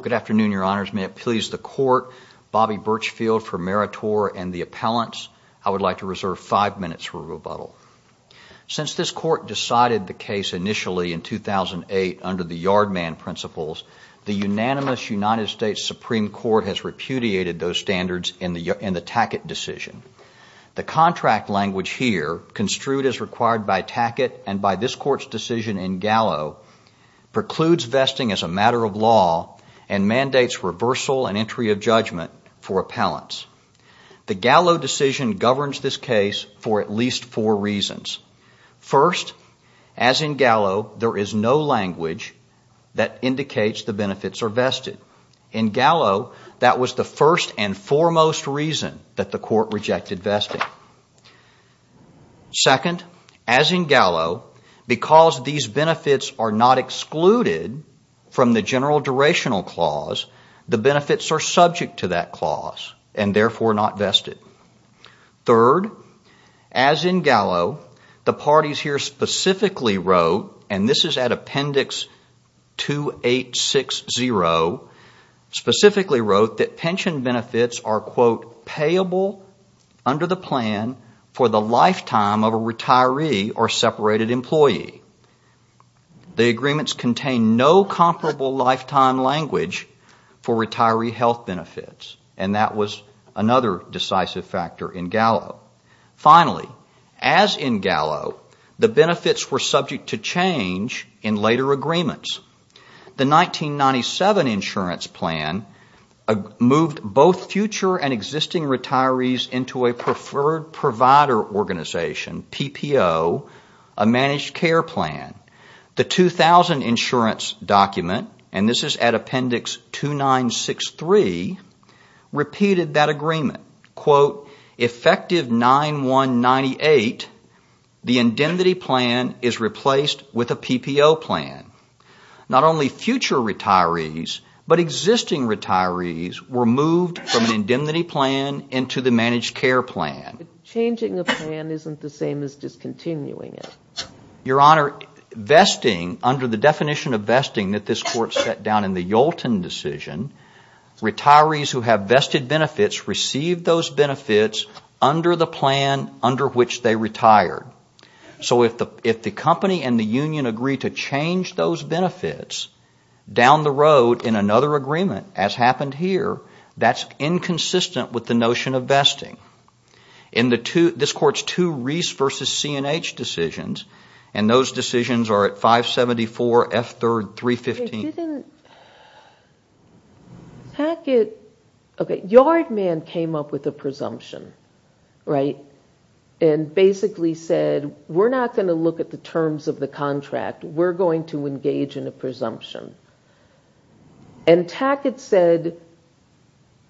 Good afternoon, Your Honors. May it please the Court, Bobby Birchfield for Meritor and the Appellants, I would like to reserve five minutes for rebuttal. Since this Court decided the case initially in 2008 under the Yardman Principles, the unanimous United States Supreme Court has repudiated those standards in the Tackett decision. The contract language here, construed as required by Tackett and by this Court's decision in Gallo, precludes vesting as a matter of law and mandates reversal and entry of judgment for Appellants. The Gallo decision governs this case for at least four reasons. First, as in Gallo, there is no language that indicates the benefits are vested. In Gallo, that was the first and foremost reason that the Court rejected vesting. Second, as in Gallo, because these benefits are not excluded from the general durational clause, the benefits are subject to that clause and therefore not vested. Third, as in Gallo, the parties here specifically wrote, and this is at Appendix 2860, specifically under the plan for the lifetime of a retiree or separated employee. The agreements contain no comparable lifetime language for retiree health benefits, and that was another decisive factor in Gallo. Finally, as in Gallo, the benefits were subject to change in later agreements. The 1997 insurance plan moved both future and existing retirees into a preferred provider organization, PPO, a managed care plan. The 2000 insurance document, and this is at Appendix 2963, repeated that agreement. Effective 9-1-98, the indemnity plan is replaced with a PPO plan. Not only future retirees, but existing retirees were moved from an indemnity plan into the managed care plan. Changing a plan isn't the same as discontinuing it. Your Honor, vesting, under the definition of vesting that this Court set down in the Yolton decision, retirees who have vested benefits receive those benefits under the plan under which they retire. So if the company and the union agree to change those benefits, down the road in another agreement, as happened here, that's inconsistent with the notion of vesting. This Court's two Reese v. C&H decisions, and those decisions are at 574 F. 3rd, 315. Yardman came up with a presumption and basically said, we're not going to look at the terms of the contract. We're going to engage in a presumption. And Tackett said,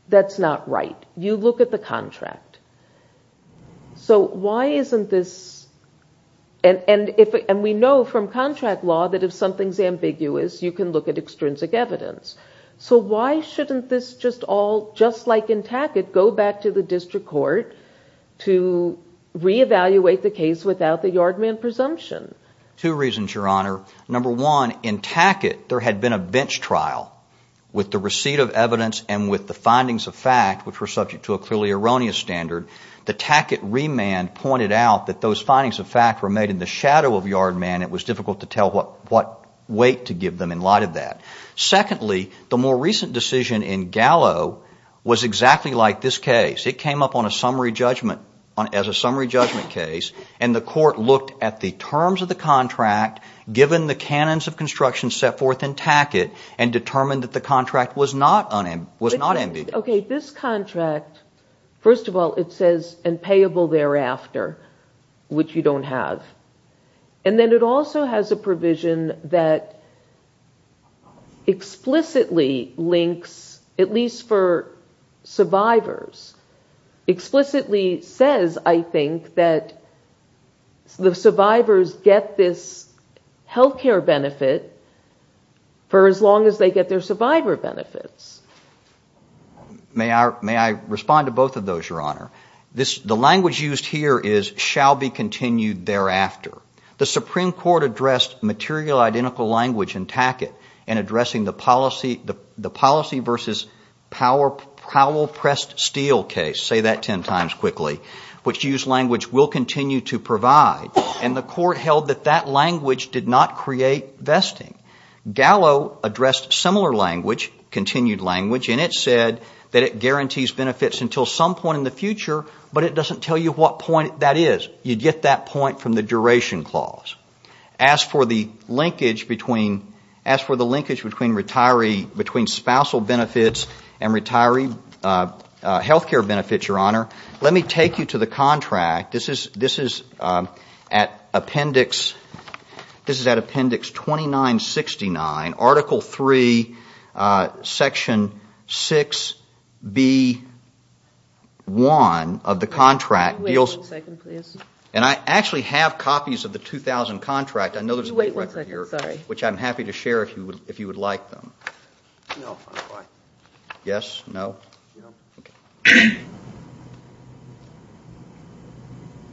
that's not right. You look at the contract. And we know from contract law that if something's ambiguous, you can look at extrinsic evidence. So why shouldn't this just all, just like in Tackett, go back to the District Court to reevaluate the case without the Yardman presumption? Two reasons, Your Honor. Number one, in Tackett, there had been a bench trial with the receipt of evidence and with the findings of fact, which were subject to a clearly erroneous standard. The Tackett remand pointed out that those findings of fact were made in the shadow of Yardman. It was difficult to tell what weight to give them in light of that. Secondly, the more recent decision in Gallo was exactly like this case. It came up on a summary judgment, as a summary judgment case, and the court looked at the terms of the contract, given the canons of construction set forth in Tackett, and determined that the contract was not ambiguous. This contract, first of all, it says, and payable thereafter, which you don't have. And then it also has a provision that explicitly links, at least for survivors, explicitly says, I think, that the survivors get this health care benefit for as long as they get their survivor benefits. May I respond to both of those, Your Honor? The language used here is, shall be continued thereafter. The Supreme Court addressed material identical language in Tackett in addressing the policy versus Powell pressed steel case, say that ten times quickly, which used language will continue to provide. And the court held that that language did not create vesting. Gallo addressed similar language, continued language, and it said that it guarantees benefits until some point in the future, but it doesn't tell you what point that is. You get that point from the duration clause. As for the linkage between, as for the linkage between retiree, between spousal benefits and retiree health care benefits, Your Honor, let me take you to the contract. This is, this is at Appendix, this is at Appendix 2969, Article 3, Section 6B1 of the contract deals with, and I actually have copies of the 2000 contract, I know there's a date record here, which I'm happy to share if you would like them. Yes, no?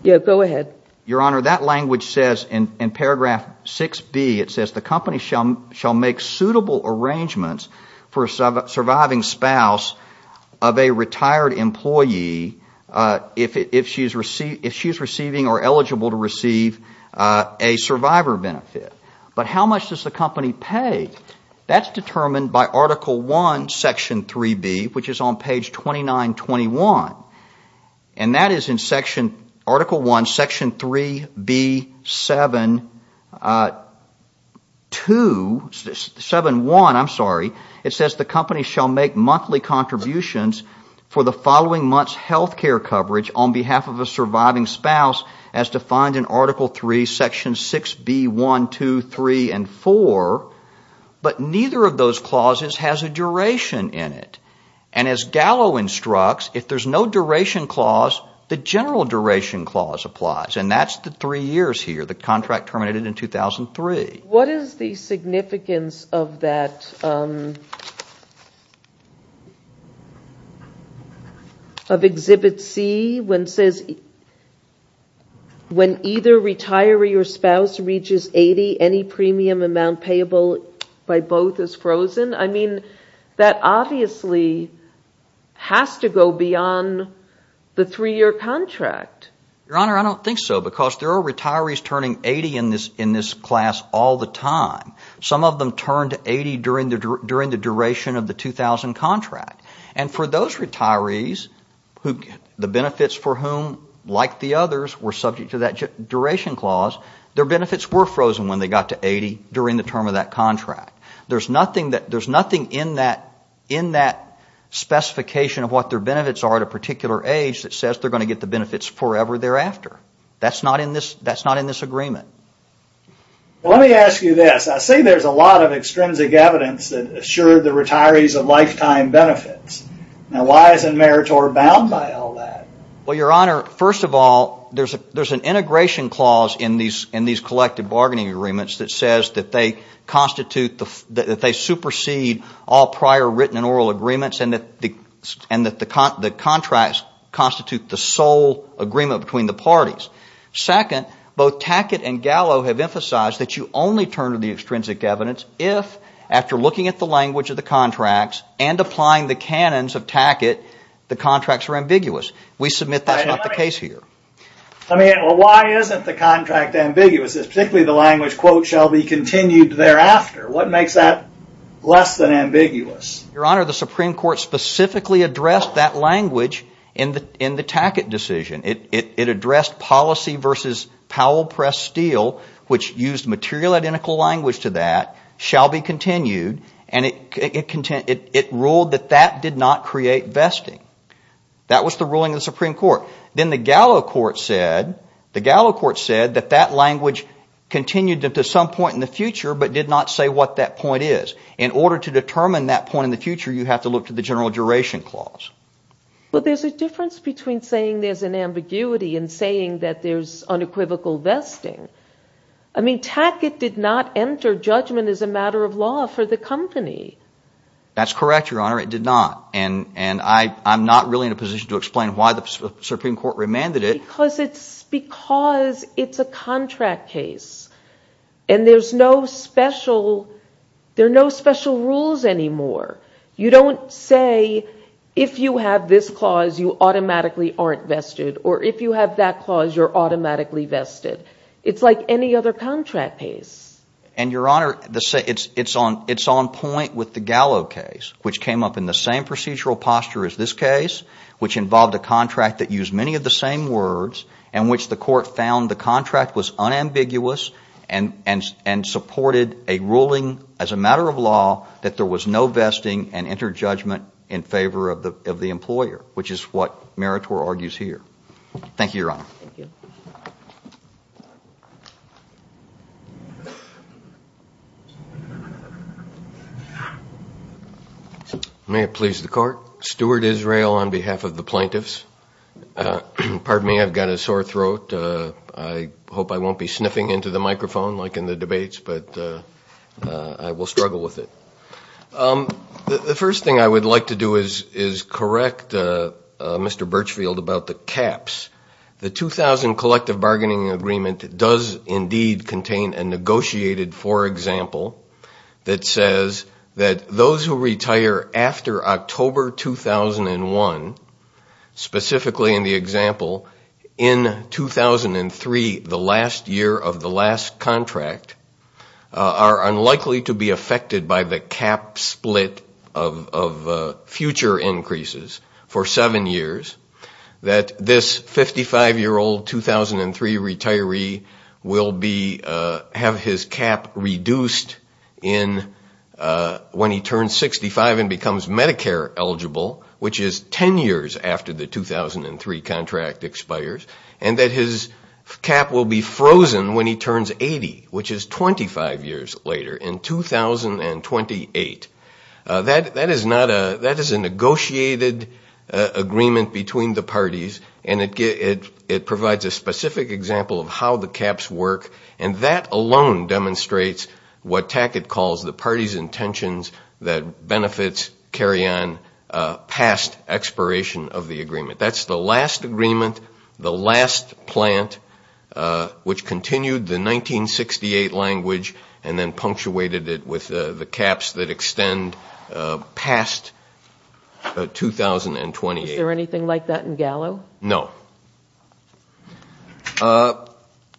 Yes, go ahead. Your Honor, that language says in Paragraph 6B, it says, the company shall make suitable arrangements for a surviving spouse of a retired employee if she's receiving health care benefits or eligible to receive a survivor benefit. But how much does the company pay? That's determined by Article 1, Section 3B, which is on page 2921, and that is in Section, Article 1, Section 3B7, 2, 7-1, I'm sorry, it says the company shall make monthly contributions for the following month's health care coverage on behalf of a surviving spouse as defined in Article 3, Section 6B1, 2, 3, and 4, but neither of those clauses has a duration in it. And as Gallo instructs, if there's no duration clause, the general duration clause applies, and that's the three years here, the contract terminated in 2003. What is the significance of that, of Exhibit C, when it says, when either retiree or spouse reaches 80, any premium amount payable by both is frozen? I mean, that obviously has to go beyond the three-year contract. Your Honor, I don't think so, because there are retirees turning 80 in this class all the time. Some of them turned 80 during the duration of the 2000 contract. And for those retirees, the benefits for whom, like the others, were subject to that duration clause, their benefits were frozen when they got to 80 during the term of that contract. There's nothing in that specification of what their benefits are at a particular age that says they're going to get the benefits forever thereafter. That's not in this agreement. Well, let me ask you this. I see there's a lot of extrinsic evidence that assured the retirees of lifetime benefits. Now, why isn't Meritor bound by all that? Well, Your Honor, first of all, there's an integration clause in these collective bargaining agreements that says that they constitute, that they supersede all prior written and sole agreement between the parties. Second, both Tackett and Gallo have emphasized that you only turn to the extrinsic evidence if, after looking at the language of the contracts and applying the canons of Tackett, the contracts are ambiguous. We submit that's not the case here. I mean, well, why isn't the contract ambiguous? Particularly the language, quote, shall be continued thereafter. What makes that less than ambiguous? Your Honor, the Supreme Court specifically addressed that language in the Tackett decision. It addressed policy versus Powell pressed steel, which used material identical language to that, shall be continued, and it ruled that that did not create vesting. That was the ruling of the Supreme Court. Then the Gallo court said that that language continued to some point in the future but did not say what that point is. In order to determine that point in the future, you have to look to the general duration clause. But there's a difference between saying there's an ambiguity and saying that there's unequivocal vesting. I mean, Tackett did not enter judgment as a matter of law for the company. That's correct, Your Honor. It did not. And I'm not really in a position to explain why the Supreme Court remanded it. Because it's a contract case, and there are no special rules anymore. You don't say, if you have this clause, you automatically aren't vested, or if you have that clause, you're automatically vested. It's like any other contract case. And Your Honor, it's on point with the Gallo case, which came up in the same procedural posture as this case, which involved a contract that used many of the same words, and which the court found the contract was unambiguous and supported a ruling as a matter of law that there was no vesting and entered judgment in favor of the employer, which is what Meritor May it please the Court. Stuart Israel on behalf of the plaintiffs. Pardon me, I've got a sore throat. I hope I won't be sniffing into the microphone like in the debates, but I will struggle with it. The first thing I would like to do is correct Mr. Birchfield about the caps. The 2000 Collective Bargaining Agreement does indeed contain a negotiated for example that says that those who retire after October 2001, specifically in the example, in 2003, the last year of the last contract, are unlikely to be affected by the cap split of future increases for seven years, that this 55-year-old 2003 retiree will have his cap reduced when he turns 65 and becomes Medicare eligible, which is 10 years after the 2003 contract expires, and that his cap will be frozen when he turns 80, which is 25 years later in 2028. That is a negotiated agreement between the parties and it provides a specific example of how the caps work and that alone demonstrates what Tackett calls the party's intentions that benefits carry on past expiration of the agreement. That's the last agreement, the last plant, which continued the 1968 language and then punctuated it with the caps that extend past 2028. Is there anything like that in Gallo? No.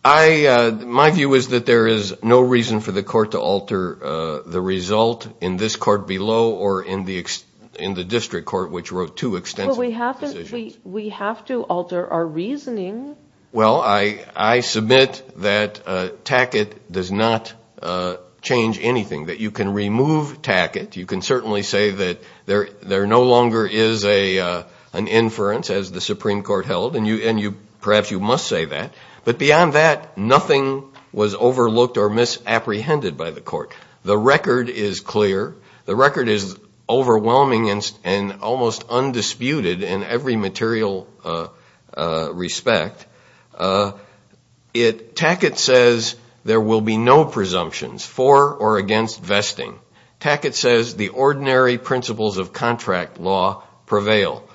My view is that there is no reason for the court to alter the result in this court below or in the district court, which wrote two extensive decisions. But we have to alter our reasoning. Well, I submit that Tackett does not change anything, that you can remove Tackett. You can certainly say that there no longer is an inference, as the Supreme Court held, and perhaps you must say that. But beyond that, nothing was overlooked or misapprehended by the court. The record is clear. The record is overwhelming and almost undisputed in every material respect. Tackett says there will be no presumptions for or against vesting. Tackett says the ordinary principles of contract law prevail.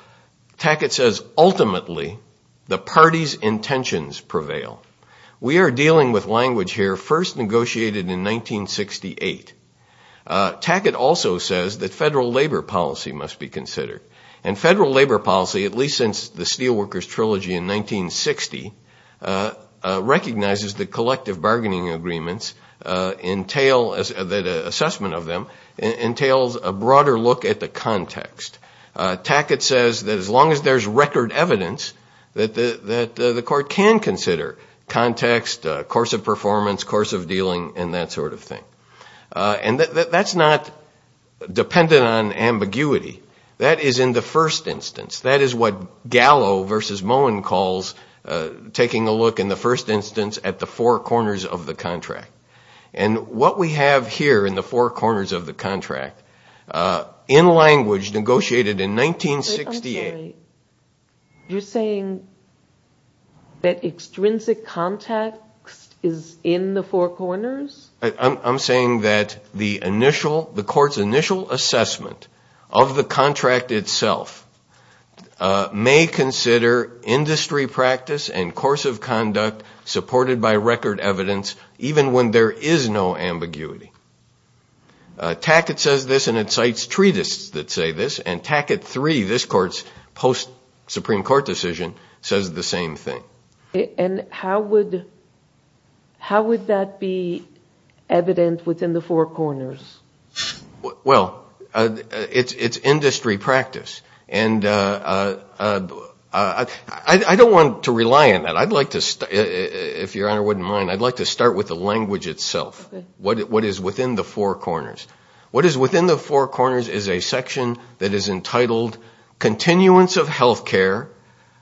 Tackett says ultimately the party's right to vote must be considered in 1968. Tackett also says that federal labor policy must be considered. And federal labor policy, at least since the Steelworkers Trilogy in 1960, recognizes that collective bargaining agreements entail, that assessment of them, entails a broader look at the context. Tackett says that as long as there's record evidence, that the court can consider context, course of performance, course of dealing, and that sort of thing. And that's not dependent on ambiguity. That is in the first instance. That is what Gallo versus Moen calls taking a look in the first instance at the four corners of the contract. And what we have here in the four corners of the contract, in language negotiated in 1968. You're saying that extrinsic context is in the four corners? I'm saying that the initial, the court's initial assessment of the contract itself may consider industry practice and course of conduct supported by record evidence even when there is no ambiguity. Tackett says this and incites treatise that say this. And Tackett 3, this court's post-Supreme Court decision, says the same thing. And how would that be evident within the four corners? Well, it's industry practice. And I don't want to rely on that. I'd like to, if Your Honor, look at what is within the four corners. What is within the four corners is a section that is entitled, Continuance of Health Care.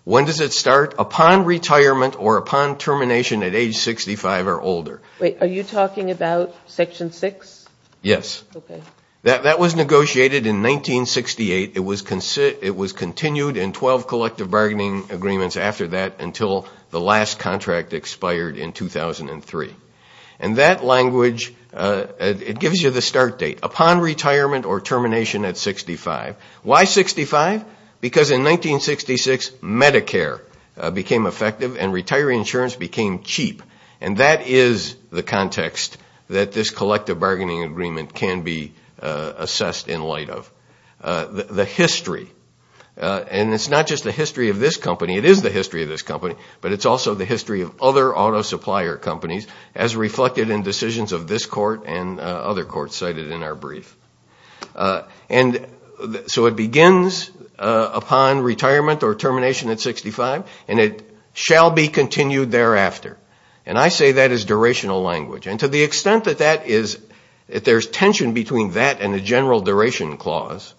When does it start? Upon retirement or upon termination at age 65 or older. Wait, are you talking about Section 6? Yes. That was negotiated in 1968. It was continued in 12 collective bargaining agreements after that and it gives you the start date. Upon retirement or termination at 65. Why 65? Because in 1966 Medicare became effective and retiree insurance became cheap. And that is the context that this collective bargaining agreement can be assessed in light of. The history, and it's not just the history of this company, it is the history of this company, but it's also the history of other auto supplier companies as reflected in decisions of this court and other courts cited in our brief. So it begins upon retirement or termination at 65 and it shall be continued thereafter. And I say that as durational language. And to the extent that there's tension between that and the general duration clause,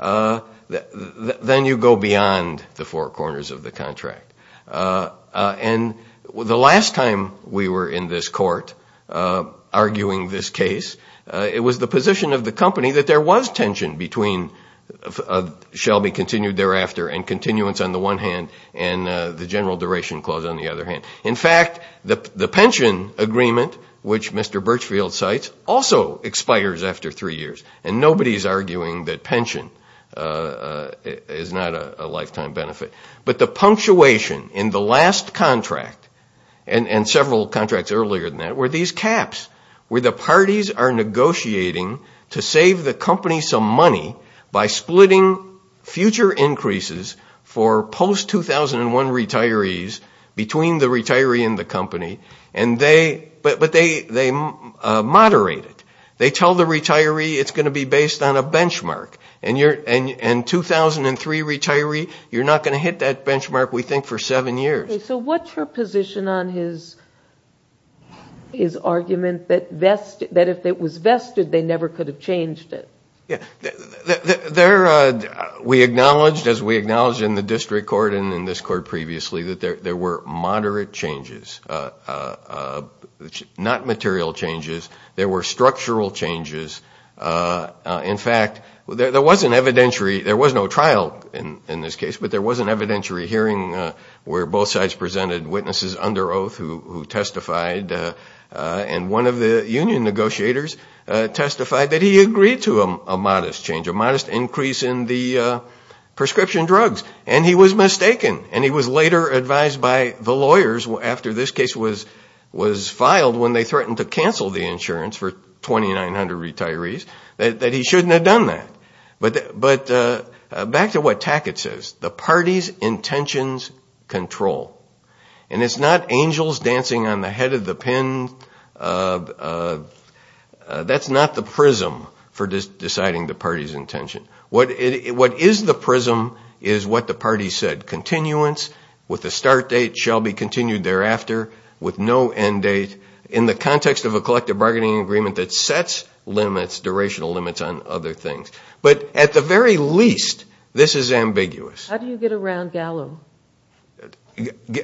then you go beyond the four corners of the contract. And the last time we were in this court arguing this case, it was the position of the company that there was tension between shall be continued thereafter and continuance on the one hand and the general duration clause on the other hand. In fact, the pension agreement, which Mr. Birchfield cites, also expires after three years. And nobody's arguing that pension is not a lifetime benefit. But the punctuation in the last contract, and several contracts earlier than that, were these caps where the parties are negotiating to save the company some money by splitting future increases for post-2001 retirees between the retiree and the company, but they moderate it. They tell the retiree it's going to be based on a benchmark. And 2003 retiree, you're not going to hit that benchmark, we think, for seven years. Okay, so what's your position on his argument that if it was vested, they never could have changed it? We acknowledged, as we acknowledged in the district court and in this court previously, that there were moderate changes, not material changes. There were structural changes. In fact, there was an evidentiary, there was no trial in this case, but there was an evidentiary hearing where both sides presented witnesses under oath who testified. And one of the union negotiators testified that he agreed to a modest change, a modest increase in the prescription drugs, and he was mistaken. And he was later advised by the lawyers after this case was filed when they threatened to cancel the insurance for 2,900 retirees that he shouldn't have done that. But back to what Tackett says, the party's intentions control. And it's not angels dancing on the head of the pen. That's not the prism for deciding the party's intention. What is the prism is what the party said, continuance with the start date shall be continued thereafter with no end date in the context of a collective bargaining agreement that sets limits, durational limits on other things. But at the very least, this is ambiguous. How do you get around Gallo?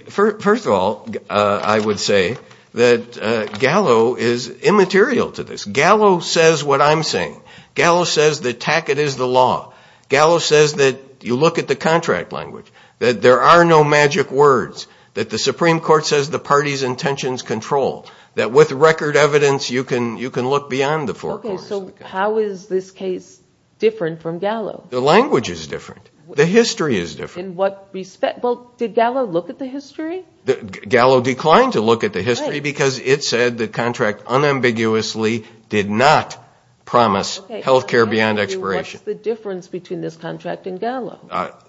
First of all, I would say that Gallo is immaterial to this. Gallo says what I'm saying. Gallo says that Tackett is the law. Gallo says that you look at the contract language, that there are no magic words, that the Supreme Court says the party's intentions control, that with record evidence you can look beyond the four corners. Okay, so how is this case different from Gallo? The language is different. The history is different. In what respect? Well, did Gallo look at the history? Gallo declined to look at the history because it said the contract unambiguously did not promise health care beyond expiration. What's the difference between this contract and Gallo?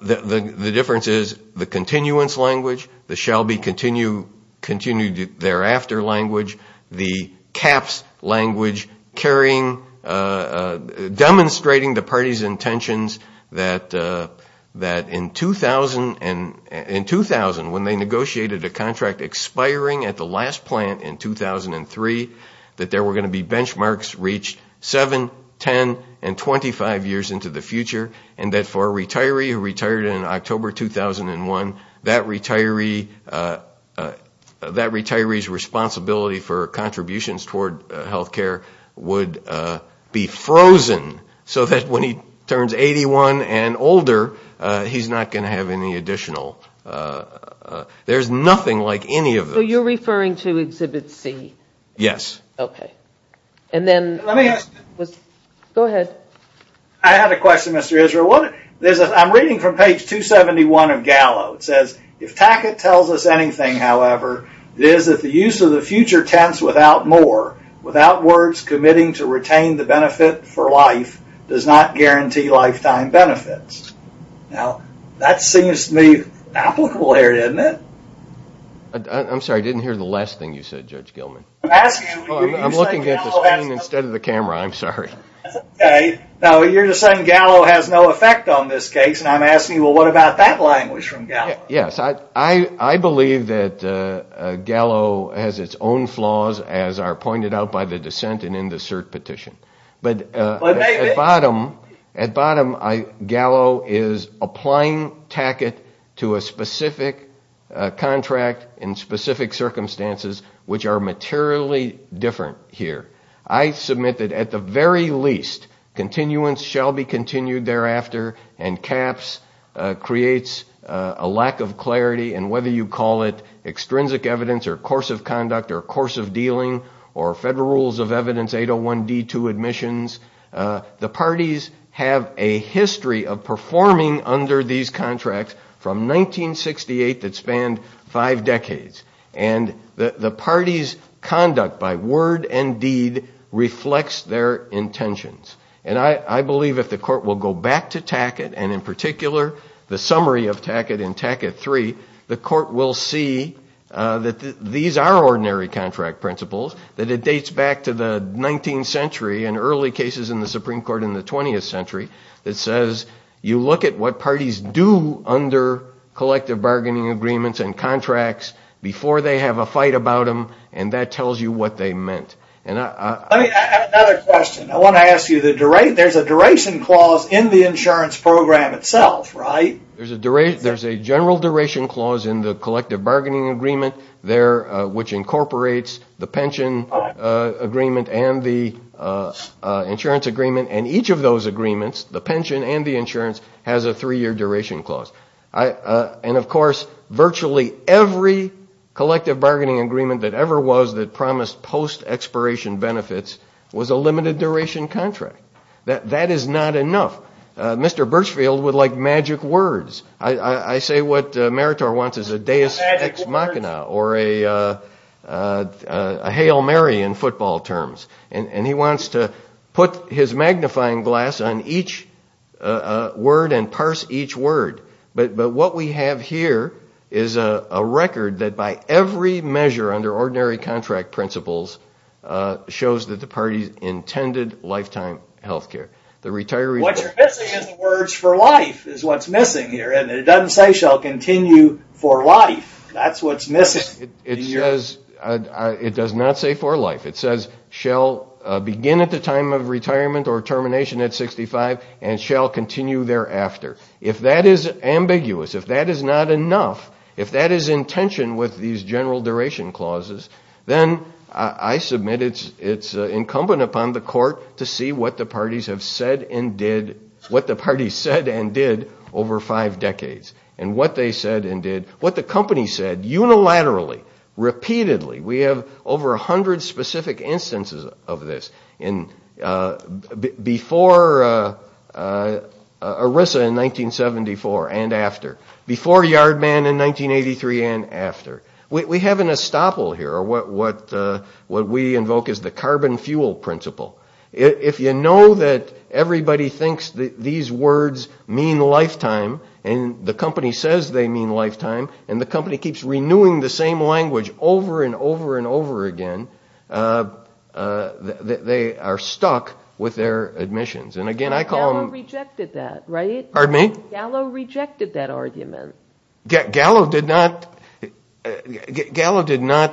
The difference is the continuance language, the shall be continued thereafter language, the caps language, demonstrating the party's intentions that in 2000, when they negotiated a contract expiring at the last plant in 2003, that there were going to be benchmarks reached seven, ten, and twenty-five years into the future, and that for a retiree who retired in October 2001, that retiree's responsibility for contributions toward health care would be frozen so that when he turns 81 and older, he's not going to have any additional. There's nothing like any of those. So you're referring to Exhibit C? Yes. Okay. And then, go ahead. I have a question, Mr. Israel. I'm reading from page 271 of Gallo. It says, if Tackett tells us anything, however, it is that the use of the future tense without more, without words committing to retain the benefit for life, does not guarantee lifetime benefits. Now, that seems to me applicable here, doesn't it? I'm sorry, I didn't hear the last thing you said, Judge Gilman. I'm looking at the screen instead of the camera, I'm sorry. Okay. Now, you're saying Gallo has no effect on this case, and I'm asking, well, what about that language from Gallo? Yes. I believe that Gallo has its own flaws, as are pointed out by the dissent and in the cert petition. But at bottom, Gallo is applying Tackett to a specific contract in specific circumstances, which are materially different here. I submit that at the very least, continuance shall be continued thereafter, and CAPS creates a lack of clarity in whether you call it extrinsic evidence or course of conduct or course of dealing or Federal Rules of Evidence 801D2 admissions. The parties have a history of performing under these contracts from 1968 that span five decades, and the parties' conduct by word and deed reflects their intentions. And I believe if the court will go back to Tackett, and in particular, the summary of Tackett in Tackett III, the court will see that these are ordinary contract principles, that it dates back to the 19th century and early cases in the Supreme Court in the 20th century, that says you look at what parties do under collective bargaining agreements and contracts before they have a fight about them, and that tells you what they meant. I have another question. I want to ask you, there's a duration clause in the insurance program itself, right? There's a general duration clause in the collective bargaining agreement, which incorporates the pension agreement and the insurance agreement, and each of those agreements, the pension and the insurance, has a three-year duration clause. And of course, virtually every collective bargaining agreement that ever was that promised post-expiration benefits was a limited duration contract. That is not enough. Mr. Birchfield would like magic words. I say what Meritor wants is a deus ex machina, or a Hail Mary in football terms. And he wants to put his magnifying glass on each word and parse each word. But what we have here is a record that by every measure under ordinary contract principles shows that the parties intended lifetime health care. What you're missing is the words for life is what's missing here, and it doesn't say shall continue for life. That's what's missing. It does not say for life. It says shall begin at the time of retirement or termination at 65 and shall continue thereafter. If that is ambiguous, if that is not enough, if that is in tension with these general duration clauses, then I submit it's incumbent upon the court to see what the parties have said and did, what the parties said and did over five decades, and what they said and did, what the company said unilaterally, repeatedly. We have over 100 specific instances of this before ERISA in 1974 and after, before Yardman in 1983 and after. We have an estoppel here, what we invoke as the carbon fuel principle. If you know that everybody thinks these words mean lifetime and the company says they mean lifetime and the company keeps renewing the same language over and over and over again, they are stuck with their admissions. And again, I call them... Gallo rejected that, right? Pardon me? Gallo rejected that argument. Gallo did not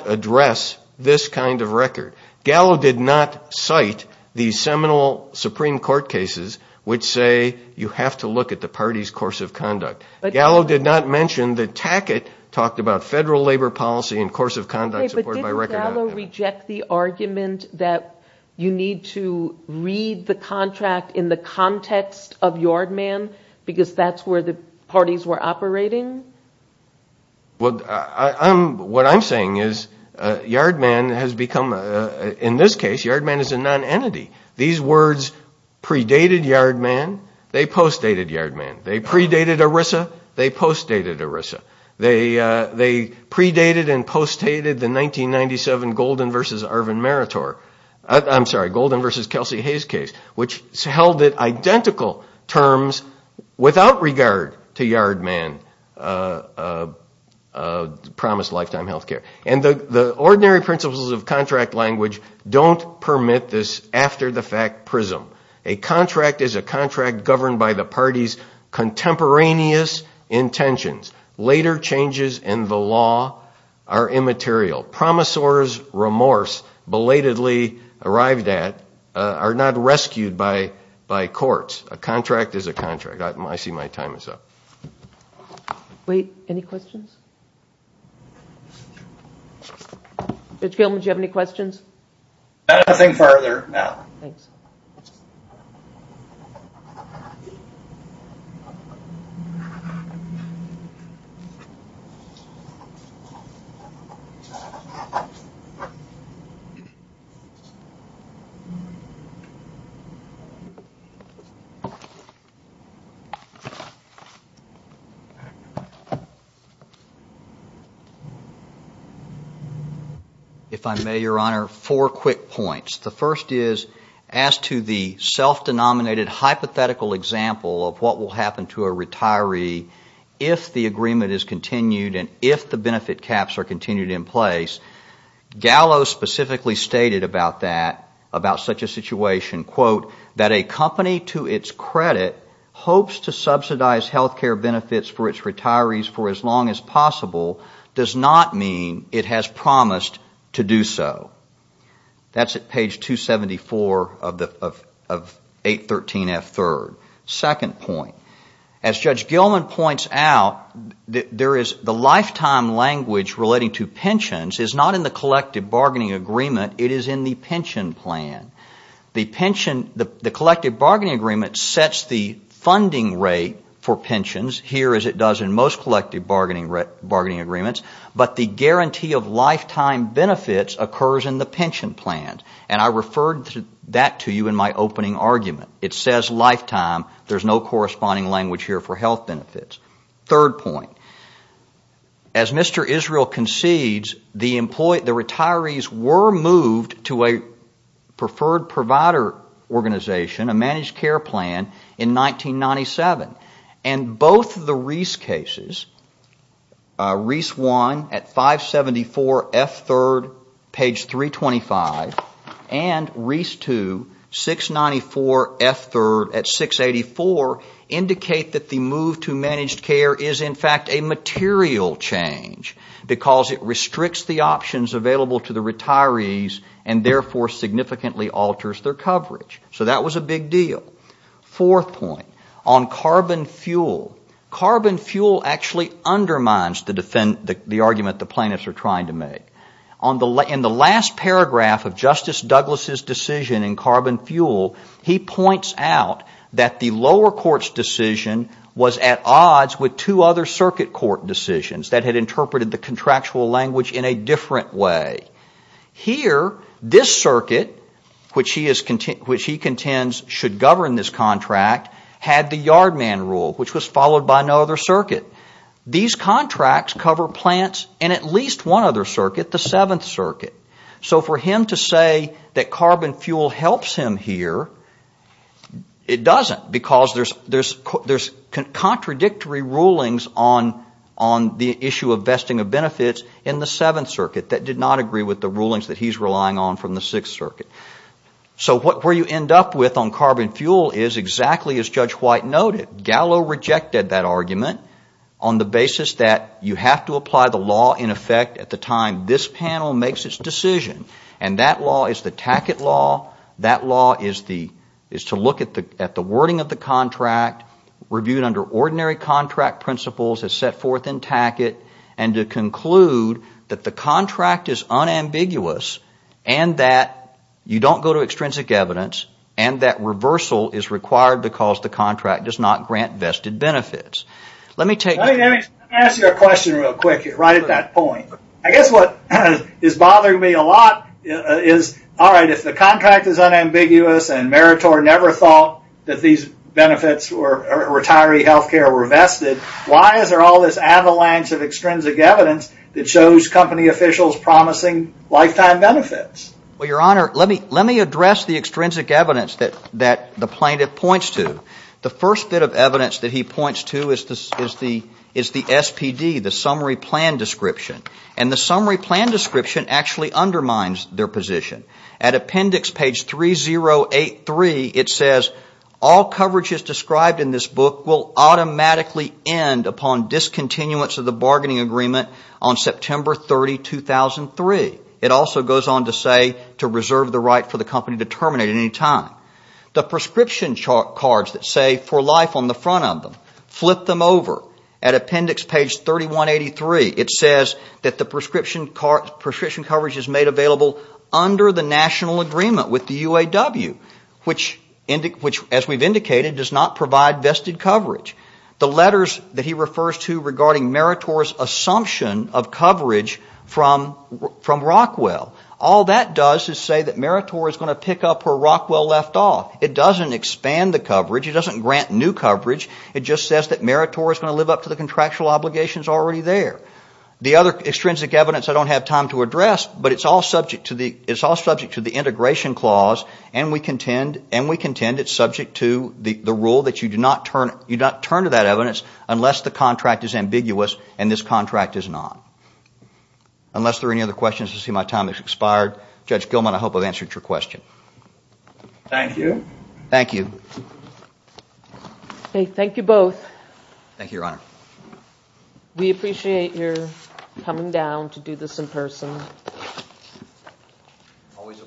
address this kind of record. Gallo did not cite the seminal Supreme Court cases which say you have to look at the party's course of conduct. Gallo did not mention that Tackett talked about federal labor policy and course of conduct... But didn't Gallo reject the argument that you need to read the contract in the context of Yardman because that's where the parties were operating? What I'm saying is Yardman has become, in this case, Yardman is a non-entity. These words predated Yardman, they post-dated Yardman. They predated ERISA, they post-dated ERISA. They predated and post-dated the 1997 Golden versus Kelsey Hayes case which held it identical terms without regard to Yardman promised lifetime health care. And the ordinary principles of contract language don't permit this after-the-fact prism. A contract is a contract governed by the party's contemporaneous intentions. Later changes in the law are immaterial. Promisor's remorse belatedly arrived at are not rescued by courts. A contract is a contract. I see my time is up. Wait, any questions? Mitch Gilman, do you have any questions? Nothing further now. Thanks. If I may, Your Honor, four quick points. The first is, as to the self-denominated hypothetical example of what will happen to a retiree if the agreement is continued and if the benefit caps are continued in place, Gallo specifically stated about that, about such a situation, quote, that a company to its credit hopes to subsidize health care benefits for its retirees for as long as possible does not mean it has promised to do so. That's at page 274 of 813F third. Second point, as Judge Gilman points out, the lifetime language relating to pensions is not in the collective bargaining agreement, it is in the pension plan. The collective bargaining agreement sets the funding rate for pensions here as it does in most collective bargaining agreements, but the guarantee of lifetime benefits occurs in the pension plan. And I referred that to you in my opening argument. It says lifetime, there's no corresponding language here for health benefits. Third point, as Mr. Israel concedes, the retirees were moved to a preferred provider organization, a managed care plan, in 1997. And both the Reese cases, Reese 1 at 574F third, page 325, and Reese 2, 694F third at 684, indicate that the move to managed care is in fact a material change because it restricts the options available to the retirees and therefore significantly alters their coverage. So that was a big deal. Fourth point, on carbon fuel, carbon fuel actually undermines the argument the plaintiffs are trying to make. In the last paragraph of Justice Douglas' decision in carbon fuel, he points out that the lower court's decision was at odds with two other circuit court decisions that had interpreted the contractual language in a different way. Here, this circuit, which he contends should govern this contract, had the yard man rule, which was followed by no other circuit. These contracts cover plants in at least one other circuit, the seventh circuit. So for him to say that carbon fuel helps him here, it doesn't. Because there's contradictory rulings on the issue of vesting of benefits in the seventh circuit that did not agree with the rulings that he's relying on from the sixth circuit. So where you end up with on carbon fuel is exactly as Judge White noted. Gallo rejected that argument on the basis that you have to apply the law in effect at the time this panel makes its decision. And that law is the Tackett law. That law is to look at the wording of the contract, review it under ordinary contract principles as set forth in Tackett, and to conclude that the contract is unambiguous, and that you don't go to extrinsic evidence, and that reversal is required because the contract does not grant vested benefits. Let me take... Let me ask you a question real quick right at that point. I guess what is bothering me a lot is, all right, if the contract is unambiguous and Meritor never thought that these benefits or retiree health care were vested, why is there all this avalanche of extrinsic evidence that shows company officials promising lifetime benefits? Well, Your Honor, let me address the extrinsic evidence that the plaintiff points to. The first bit of evidence that he points to is the SPD, the summary plan description. And the summary plan description actually undermines their position. At appendix page 3083, it says, all coverages described in this book will automatically end upon discontinuance of the bargaining agreement on September 30, 2003. It also goes on to say to reserve the right for the company to terminate at any time. The prescription cards that say for life on the front of them, flip them over at appendix page 3183. It says that the prescription coverage is made available under the national agreement with the UAW, which, as we've indicated, does not provide vested coverage. The letters that he refers to regarding Meritor's assumption of coverage from Rockwell, all that does is say that Meritor is going to pick up where Rockwell left off. It doesn't expand the coverage. It doesn't grant new coverage. It just says that Meritor is going to live up to the contractual obligations already there. The other extrinsic evidence I don't have time to address, but it's all subject to the integration clause, and we contend it's subject to the rule that you do not turn to that evidence unless the contract is ambiguous and this contract is not. Unless there are any other questions, I see my time has expired. Judge Gilman, I hope I've answered your question. Thank you. Thank you. Thank you both. Thank you, Your Honor. We appreciate your coming down to do this in person. Always a pleasure.